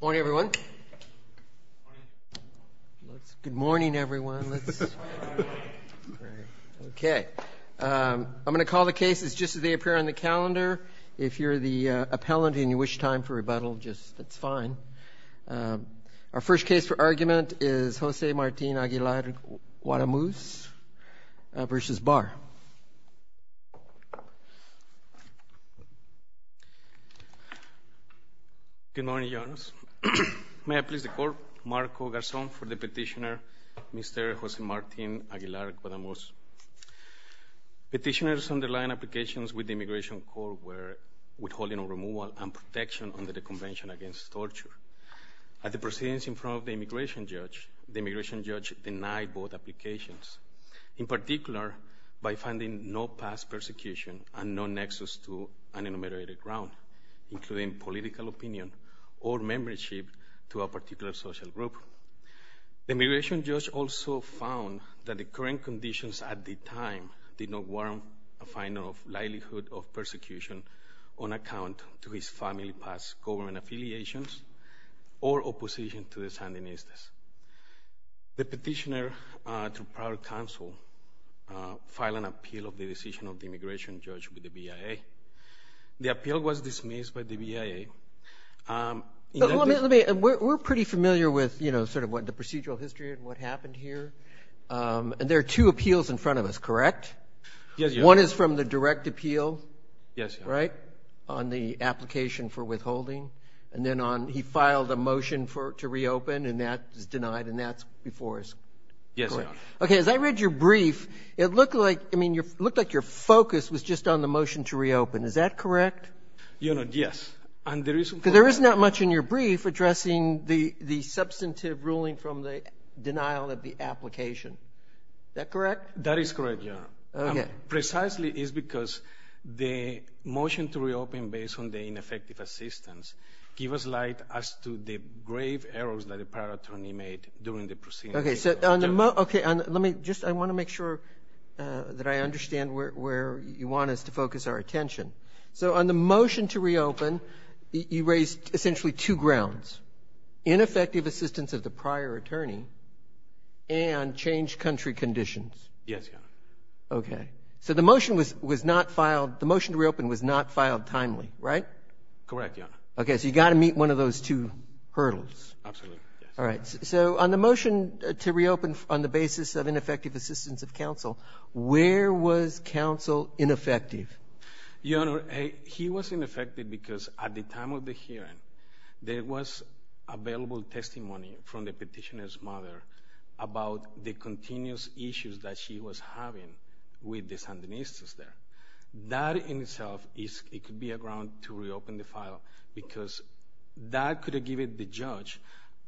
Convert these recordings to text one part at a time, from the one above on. Morning everyone. Good morning everyone. Okay I'm gonna call the cases just as they appear on the calendar. If you're the appellant and you wish time for rebuttal just that's fine. Our first case for argument is Jose Martin Aguilar Guadamuz versus Barr. Good morning. May I please call Marco Garzón for the petitioner Mr. Jose Martin Aguilar Guadamuz. Petitioners' underlying applications with the Immigration Court were withholding a removal and protection under the Convention Against Torture. At the proceedings in front of the immigration judge denied both applications in particular by finding no past persecution and no nexus to an enumerated ground including political opinion or membership to a particular social group. The immigration judge also found that the current conditions at the time did not warrant a finding of likelihood of persecution on account to his family past government affiliations or opposition to the Sandinistas. The petitioner to prior counsel file an appeal of the decision of the immigration judge with the BIA. The appeal was dismissed by the BIA. We're pretty familiar with you know sort of what the procedural history and what happened here and there are two appeals in front of us correct? Yes. One is from the direct appeal. Yes. Right on the he filed a motion for it to reopen and that is denied and that's before us. Yes. Okay as I read your brief it looked like I mean you looked like your focus was just on the motion to reopen. Is that correct? You know yes. And the reason there is not much in your brief addressing the the substantive ruling from the denial of the application. Is that correct? That is correct Your Honor. Okay. Precisely is because the motion to reopen based on the ineffective assistance give us light as to the grave errors that a prior attorney made during the proceedings. Okay so let me just I want to make sure that I understand where you want us to focus our attention. So on the motion to reopen you raised essentially two grounds. Ineffective assistance of the prior attorney and changed country conditions. Yes Your Honor. Okay so the motion was was not filed timely right? Correct Your Honor. Okay so you got to meet one of those two hurdles. Absolutely. All right so on the motion to reopen on the basis of ineffective assistance of counsel where was counsel ineffective? Your Honor he was ineffective because at the time of the hearing there was available testimony from the petitioner's mother about the continuous issues that she was having with the It could be a ground to reopen the file because that could have given the judge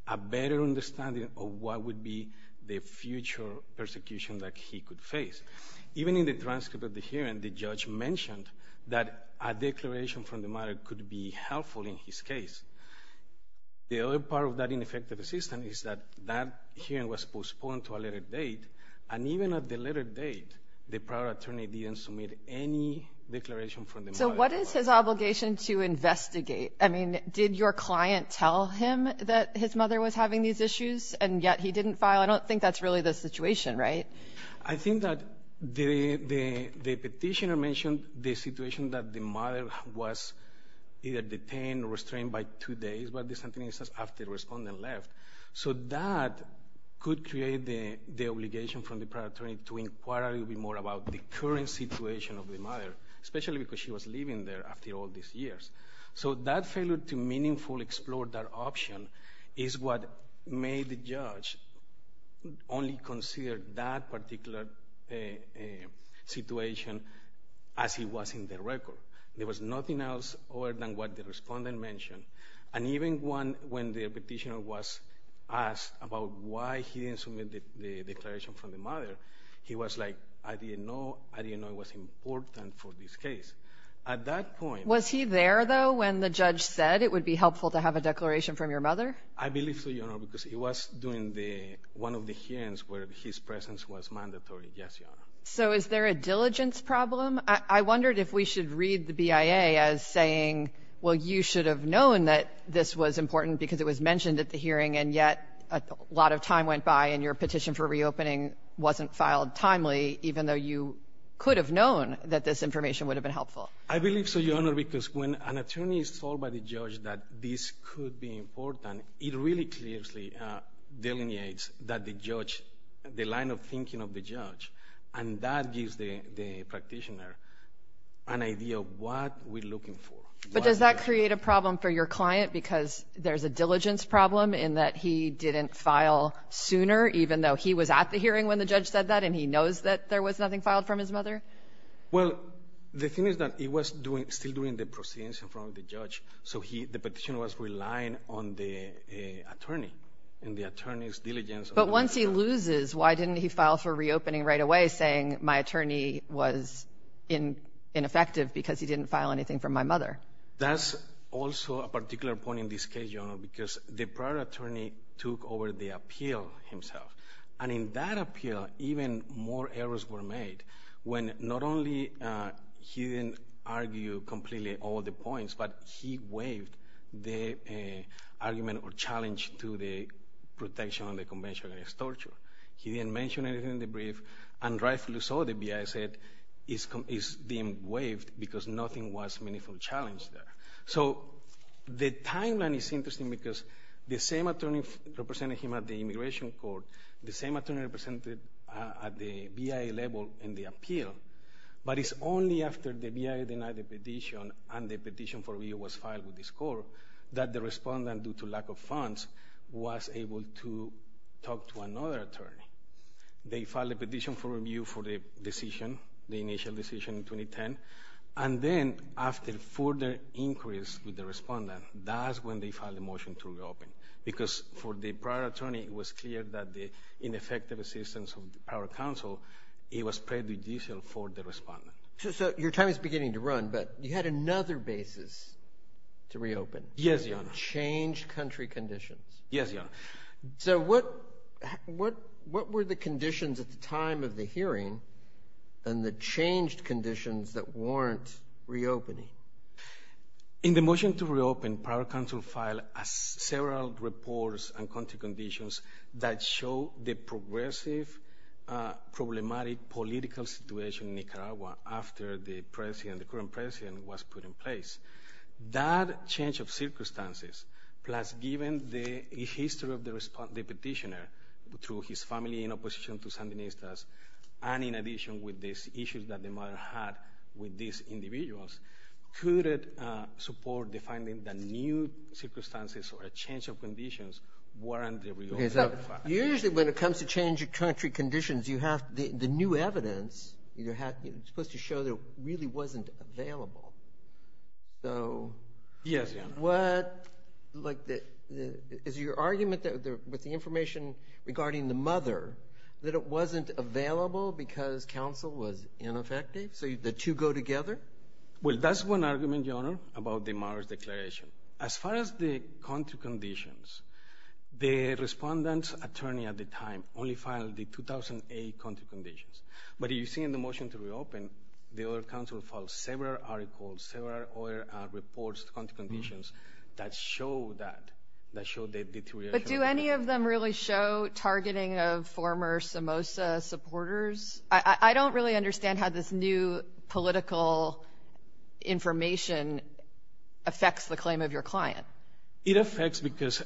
a better understanding of what would be the future persecution that he could face. Even in the transcript of the hearing the judge mentioned that a declaration from the mother could be helpful in his case. The other part of that ineffective assistance is that that hearing was postponed to a later date and even at the later date the prior attorney didn't submit any declaration So what is his obligation to investigate? I mean did your client tell him that his mother was having these issues and yet he didn't file? I don't think that's really the situation right? I think that the the the petitioner mentioned the situation that the mother was either detained or restrained by two days but the sentences after respondent left. So that could create the the obligation from the prior attorney to inquire a little bit more about the current situation of the mother especially because she was living there after all these years. So that failure to meaningfully explore that option is what made the judge only consider that particular situation as he was in the record. There was nothing else other than what the respondent mentioned and even one when the petitioner was asked about why he didn't submit the declaration from the mother he was like I didn't know I didn't know it was important for this case. At that point... Was he there though when the judge said it would be helpful to have a declaration from your mother? I believe so because he was doing the one of the hearings where his presence was mandatory. So is there a diligence problem? I wondered if we should read the BIA as saying well you should have known that this was important because it was mentioned at the hearing and yet a lot of went by and your petition for reopening wasn't filed timely even though you could have known that this information would have been helpful. I believe so your honor because when an attorney is told by the judge that this could be important it really clearly delineates that the judge the line of thinking of the judge and that gives the practitioner an idea of what we're looking for. But does that create a problem for your client because there's a diligence problem in that he didn't file sooner even though he was at the hearing when the judge said that and he knows that there was nothing filed from his mother? Well the thing is that he was doing still doing the proceedings in front of the judge so he the petition was relying on the attorney and the attorney's diligence. But once he loses why didn't he file for reopening right away saying my attorney was in ineffective because he didn't file anything from my mother? That's also a particular point in this case your honor because the prior attorney took over the appeal himself and in that appeal even more errors were made when not only he didn't argue completely all the points but he waived the argument or challenge to the protection on the convention against torture. He didn't mention anything in the brief and rightfully so the BIA said is being waived because nothing was meaningful challenged there. So the timeline is interesting because the same attorney representing him at the immigration court, the same attorney represented at the BIA level in the appeal, but it's only after the BIA denied the petition and the petition for review was filed with this court that the respondent due to lack of funds was able to talk to another attorney. They filed a petition for review for the decision the initial decision in 2010 and then after further inquiries with the respondent that's when they filed a motion to reopen because for the prior attorney it was clear that the ineffective assistance of the power counsel it was prejudicial for the respondent. So your time is beginning to run but you had another basis to reopen. Yes your honor. Changed country conditions. Yes your honor. So what what what were the conditions at the of the hearing and the changed conditions that warrant reopening? In the motion to reopen prior counsel filed as several reports and country conditions that show the progressive problematic political situation in Nicaragua after the president the current president was put in place. That change of circumstances plus given the history of the respond the petitioner through his family in opposition to Sandinistas and in addition with these issues that the mother had with these individuals could it support defining the new circumstances or a change of conditions warrant the reopening of the family? Usually when it comes to change of country conditions you have the new evidence you have supposed to show that really wasn't available. So what like that is your argument that with the information regarding the mother that it wasn't available because counsel was ineffective so the two go together? Well that's one argument your honor about the mother's declaration. As far as the country conditions the respondent's attorney at the time only filed the 2008 country conditions but you see in the motion to reopen the other counsel filed several articles or reports country conditions that show that that showed the deterioration. But do any of them really show targeting of former Somoza supporters? I don't really understand how this new political information affects the claim of your client. It affects because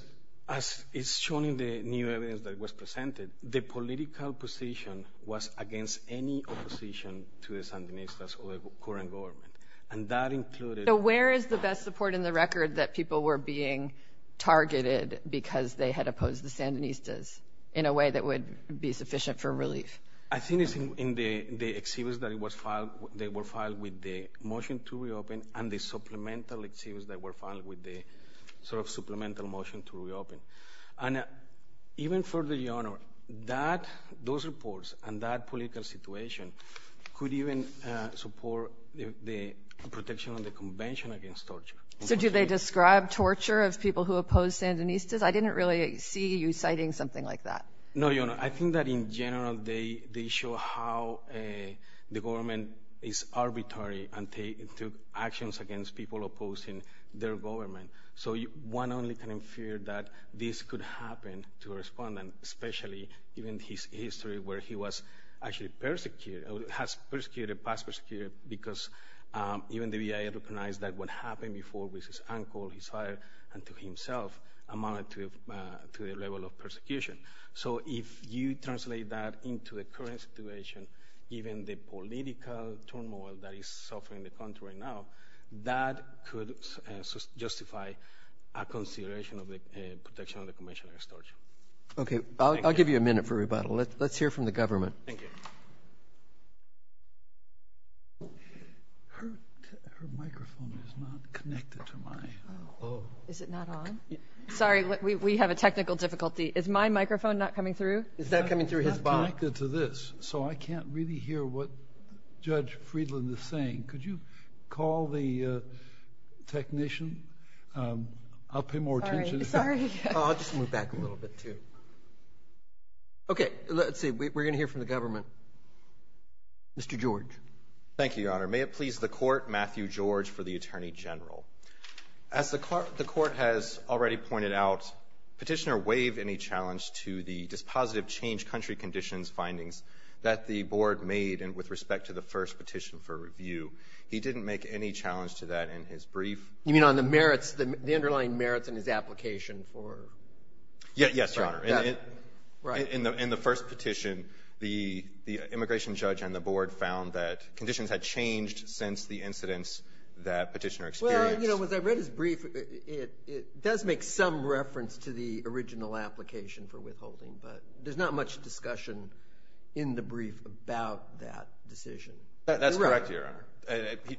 as it's shown in the new evidence that was presented the political position was against any opposition to the Sandinistas or the current government and that included. So where is the best support in the record that people were being targeted because they had opposed the Sandinistas in a way that would be sufficient for relief? I think it's in the the exhibits that it was filed they were filed with the motion to reopen and the supplemental exhibits that were filed with the sort of supplemental motion to reopen. And even further your protection on the convention against torture. So do they describe torture of people who oppose Sandinistas? I didn't really see you citing something like that. No your honor I think that in general they they show how a the government is arbitrary and take to actions against people opposing their government. So you one only kind of fear that this could happen to respond and especially even his history where he was actually persecuted has persecuted past persecuted because even the BIA recognized that what happened before with his uncle his father and to himself amounted to the level of persecution. So if you translate that into the current situation even the political turmoil that is suffering the country right now that could justify a consideration of the protection of the convention against torture. Okay I'll give you a minute for rebuttal let's hear from the government. Her microphone is not connected to mine. Is it not on? Sorry we have a technical difficulty. Is my microphone not coming through? Is that coming through his box? It's not connected to this so I can't really hear what Judge Friedland is saying. Could you call the technician? I'll pay more attention. Sorry. I'll just move back a little bit too. Okay let's hear from the government. Mr. George. Thank you Your Honor. May it please the court Matthew George for the Attorney General. As the court has already pointed out petitioner waived any challenge to the dispositive change country conditions findings that the board made and with respect to the first petition for review he didn't make any challenge to that in his brief. You mean on the merits the underlying merits in his application for? Yes Your Honor. Right. In the first petition the immigration judge and the board found that conditions had changed since the incidents that petitioner experienced. You know as I read his brief it does make some reference to the original application for withholding but there's not much discussion in the brief about that decision. That's correct Your Honor.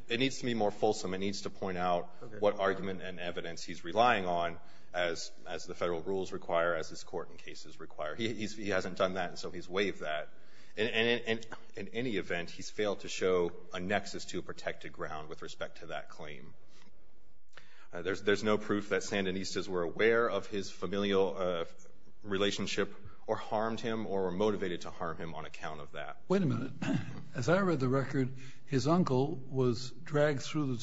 It needs to be more fulsome. It needs to point out what argument and evidence he's relying on as as the federal rules require as his court in cases require. He hasn't done that and so he's waived that and in any event he's failed to show a nexus to a protected ground with respect to that claim. There's no proof that Sandinistas were aware of his familial relationship or harmed him or were motivated to harm him on account of that. Wait a minute. As I read the record his uncle was dragged through the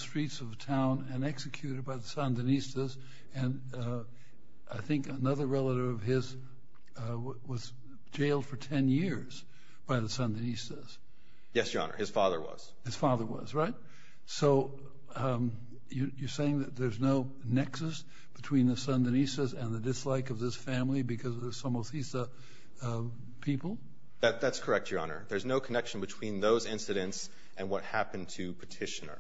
relative of his was jailed for 10 years by the Sandinistas. Yes Your Honor. His father was. His father was right? So you're saying that there's no nexus between the Sandinistas and the dislike of this family because of the Somoza people? That's correct Your Honor. There's no connection between those incidents and what happened to petitioner.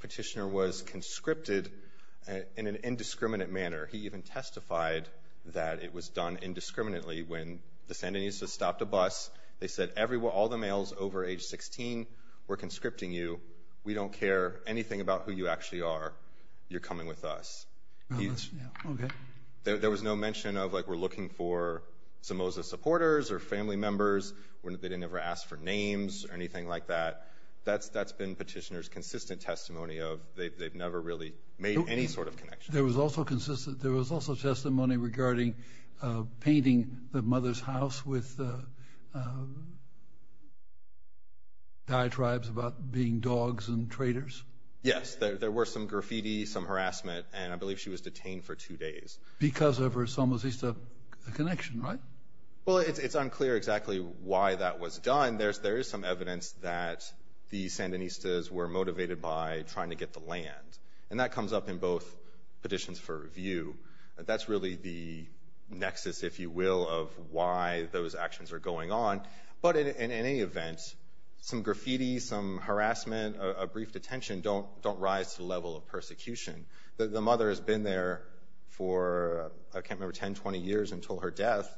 Petitioner was conscripted in an indiscriminate manner. He even testified that it was done indiscriminately when the Sandinistas stopped a bus. They said everyone all the males over age 16 were conscripting you. We don't care anything about who you actually are. You're coming with us. There was no mention of like we're looking for Somoza supporters or family members. They didn't ever ask for names or anything like that. That's that's been petitioners consistent testimony of they've never really made any sort of connection. There was also consistent. There was also testimony regarding painting the mother's house with diatribes about being dogs and traitors. Yes there were some graffiti some harassment and I believe she was detained for two days. Because of her Somoza connection right? Well it's unclear exactly why that was done. There's there is some evidence that the Sandinistas were motivated by trying to get the land. And that comes up in both petitions for review. That's really the nexus if you will of why those actions are going on. But in any event some graffiti some harassment a brief detention don't don't rise to the level of persecution. The mother has been there for I can't remember 10 20 years until her death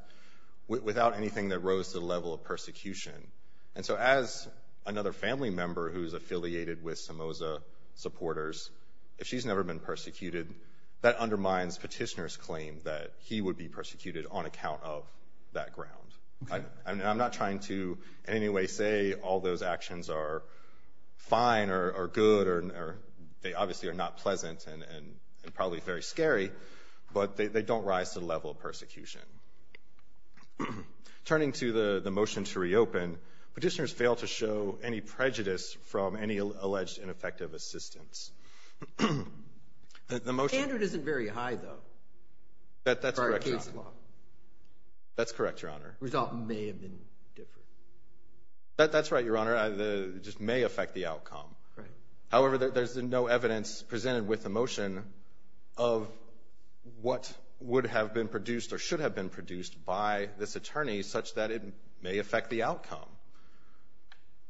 without anything that rose to the level of persecution. And so as another family member who's affiliated with Somoza supporters if she's never been persecuted that undermines petitioners claim that he would be persecuted on account of that ground. I mean I'm not trying to in any way say all those actions are fine or good or they obviously are not pleasant and and probably very scary. But they don't rise to the level of persecution. Turning to the the motion to reopen. Petitioners fail to show any prejudice from any alleged ineffective assistance. The motion isn't very high though. That that's correct. That's correct your honor. Result may have been different. That that's right your honor. I the just may affect the outcome. However there's no evidence presented with the motion of what would have been produced or should have been produced by this attorney such that it may affect the outcome.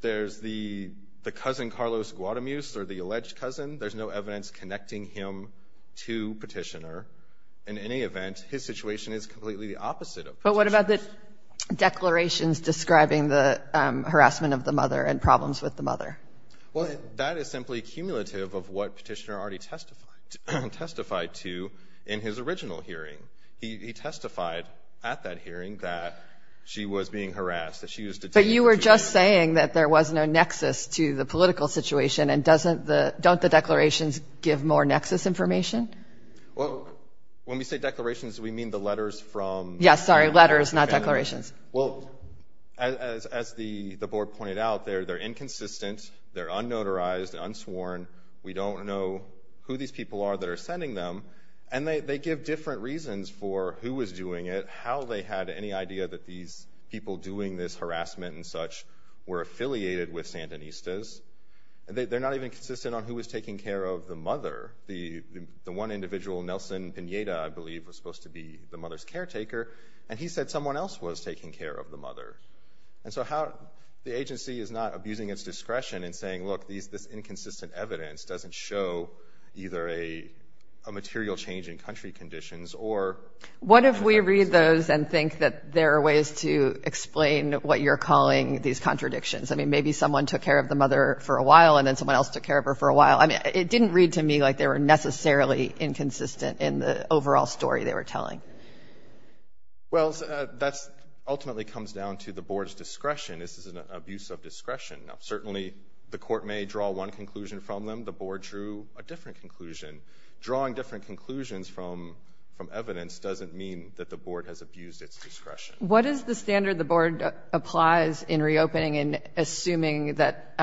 There's the the cousin Carlos Guadamus or the alleged cousin. There's no evidence connecting him to petitioner. In any event his situation is completely the opposite. But what about the declarations describing the harassment of the mother and problems with the mother? Well that is simply cumulative of what petitioner already testified to in his original hearing. He testified at that hearing that she was being harassed. But you were just saying that there was no nexus to the political situation and doesn't the don't the declarations give more nexus information? Well when we say declarations we mean the letters from. Yes sorry letters not declarations. Well as the the board pointed out there they're inconsistent. They're unnotarized unsworn. We don't know who these people are that are sending them. And they give different reasons for who was doing it. How they had any idea that these people doing this harassment and such were affiliated with Sandinistas. They're not even consistent on who was taking care of the mother. The the one individual Nelson Pineda I believe was supposed to be the mother's caretaker. And he said someone else was taking care of the mother. And so how the agency is not abusing its discretion and saying look these this inconsistent evidence doesn't show either a material change in country conditions or. What if we read those and think that there are ways to explain what you're calling these contradictions. I mean maybe someone took care of the mother for a while and then someone else took care of her for a while. I mean it didn't read to me like they were necessarily inconsistent in the ultimately comes down to the board's discretion. This is an abuse of discretion. Now certainly the court may draw one conclusion from them. The board drew a different conclusion. Drawing different conclusions from from evidence doesn't mean that the board has abused its discretion. What is the standard the board applies in reopening and assuming that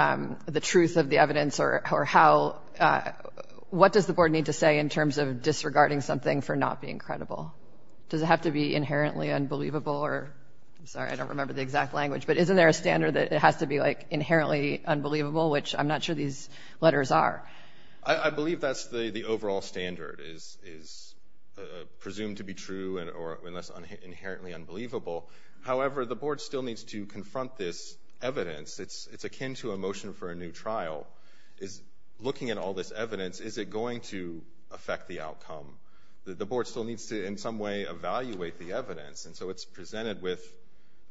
the truth of the evidence or how what does the board need to say in terms of disregarding something for not being I'm sorry I don't remember the exact language but isn't there a standard that it has to be like inherently unbelievable which I'm not sure these letters are. I believe that's the the overall standard is is presumed to be true and or less inherently unbelievable. However the board still needs to confront this evidence. It's it's akin to a motion for a new trial is looking at all this evidence is it going to affect the outcome. The board still needs to in evaluate the evidence and so it's presented with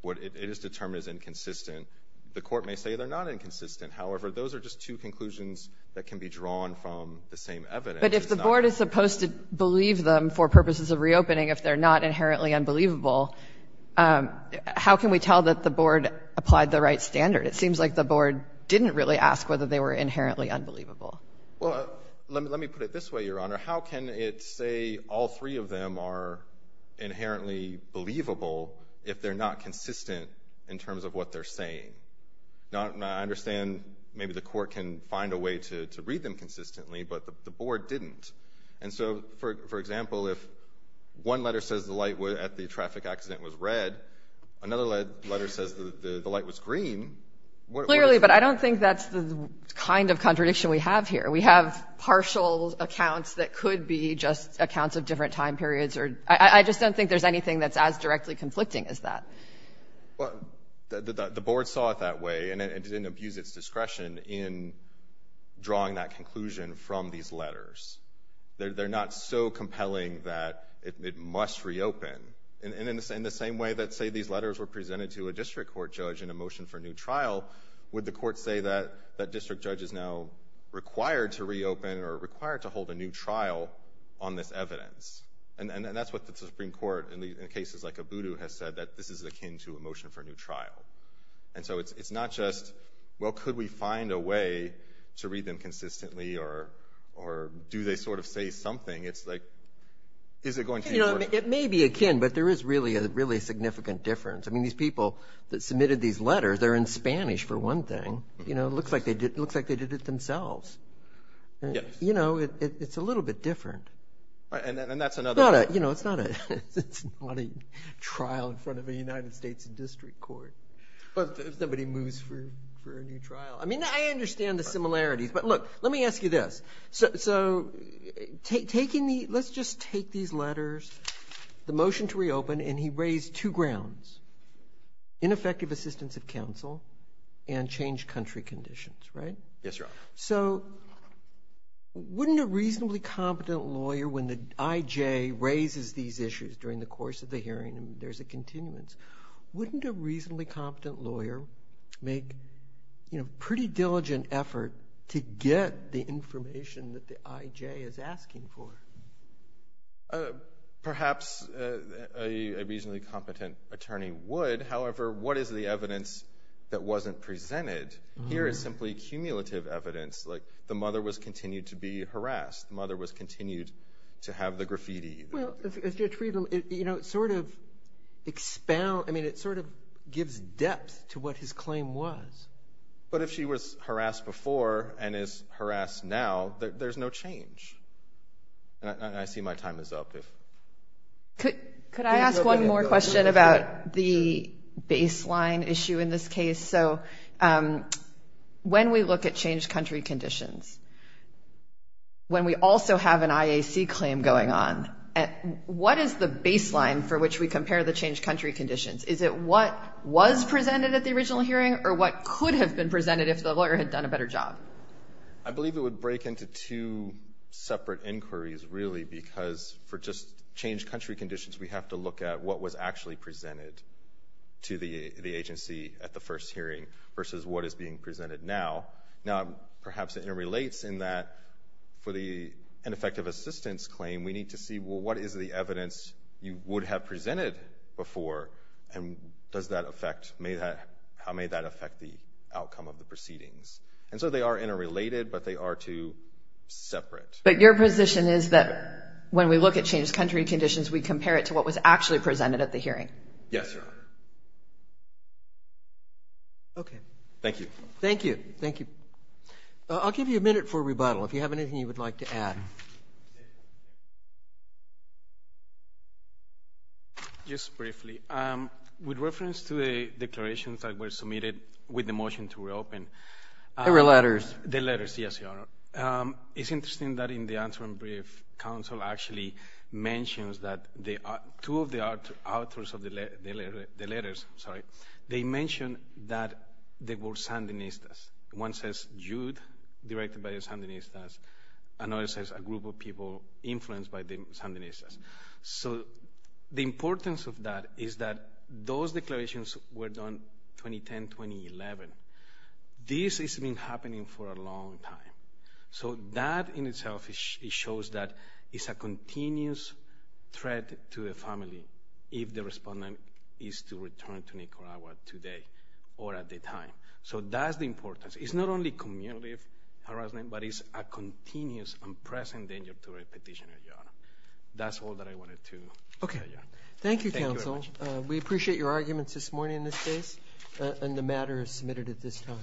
what it is determined is inconsistent. The court may say they're not inconsistent. However those are just two conclusions that can be drawn from the same evidence. But if the board is supposed to believe them for purposes of reopening if they're not inherently unbelievable how can we tell that the board applied the right standard? It seems like the board didn't really ask whether they were inherently unbelievable. Well let me put it this way your inherently believable if they're not consistent in terms of what they're saying. I understand maybe the court can find a way to read them consistently but the board didn't. And so for example if one letter says the light at the traffic accident was red another letter says the light was green. Clearly but I don't think that's the kind of contradiction we have here. We have partial accounts that could be just accounts of different time periods or I just don't think there's anything that's as directly conflicting as that. Well the board saw it that way and it didn't abuse its discretion in drawing that conclusion from these letters. They're not so compelling that it must reopen. And in the same way that say these letters were presented to a district court judge in a motion for a new trial would the court say that that district judge is now required to reopen or required to hold a new trial on this evidence. And that's what the Supreme Court in the cases like Ubudu has said that this is akin to a motion for a new trial. And so it's not just well could we find a way to read them consistently or or do they sort of say something. It's like is it going to work. You know it may be akin but there is really a really significant difference. I mean these people that submitted these letters they're in Spanish for one thing. You know it looks like they did looks like they did it themselves. You know it's a little bit different. And that's another. You know it's not a it's not a trial in front of the United States District Court. If somebody moves for a new trial. I mean I understand the similarities but look let me ask you this. So taking the let's just take these letters the motion to reopen and he raised two grounds. Ineffective assistance of counsel and change country conditions. Right. Yes sir. So wouldn't a reasonably competent lawyer when the IJ raises these issues during the course of the hearing and there's a continuance. Wouldn't a reasonably competent lawyer make you know pretty diligent effort to get the information that the IJ is asking for. Perhaps a reasonably competent attorney would. However what is the evidence that wasn't presented here is simply cumulative evidence. Like the mother was continued to be harassed. Mother was continued to have the graffiti. You know sort of expound. I mean it sort of gives depth to what his claim was. But if she was harassed before and is harassed now there's no change. And I see my time is up. Could I ask one more question about the baseline issue in this case. So when we look at change country conditions. When we also have an IAC claim going on. What is the baseline for which we compare the change country conditions. Is it what was presented at the original hearing or what could have been presented if the lawyer had done a better job. I believe it would break into two separate inquiries really because for just change country conditions we have to look at what was actually presented to the agency at the first hearing versus what is being presented now. Now perhaps it interrelates in that for the ineffective assistance claim we need to see well what is the evidence you would have presented before and does that affect may that how may that affect the outcome of the proceedings. And so they are interrelated but they are two separate. But your position is that when we look at change country conditions we compare it to what was actually presented at the hearing. Yes sir. Okay. Thank you. Thank you. Thank you. I'll give you a minute for rebuttal if you have anything you would like to add. Just briefly with reference to the declarations that were submitted with the motion to reopen. There were letters. The letters yes. It's interesting that in the interim brief council actually mentions that they are two of the authors of the letters sorry they mentioned that they were Sandinistas. One says Jude directed by the Sandinistas. Another says a group of people influenced by the Sandinistas. So the importance of that is that those declarations were done 2010-2011. This has been happening for a long time. So that in itself it shows that it's a continuous threat to the family if the respondent is to return to Nicaragua today or at the time. So that's the importance. It's not only community harassment but it's a continuous and present danger to a petitioner. That's all that I wanted to say. Okay. Thank you counsel. We appreciate your arguments this morning in this case and the matter is submitted at this time.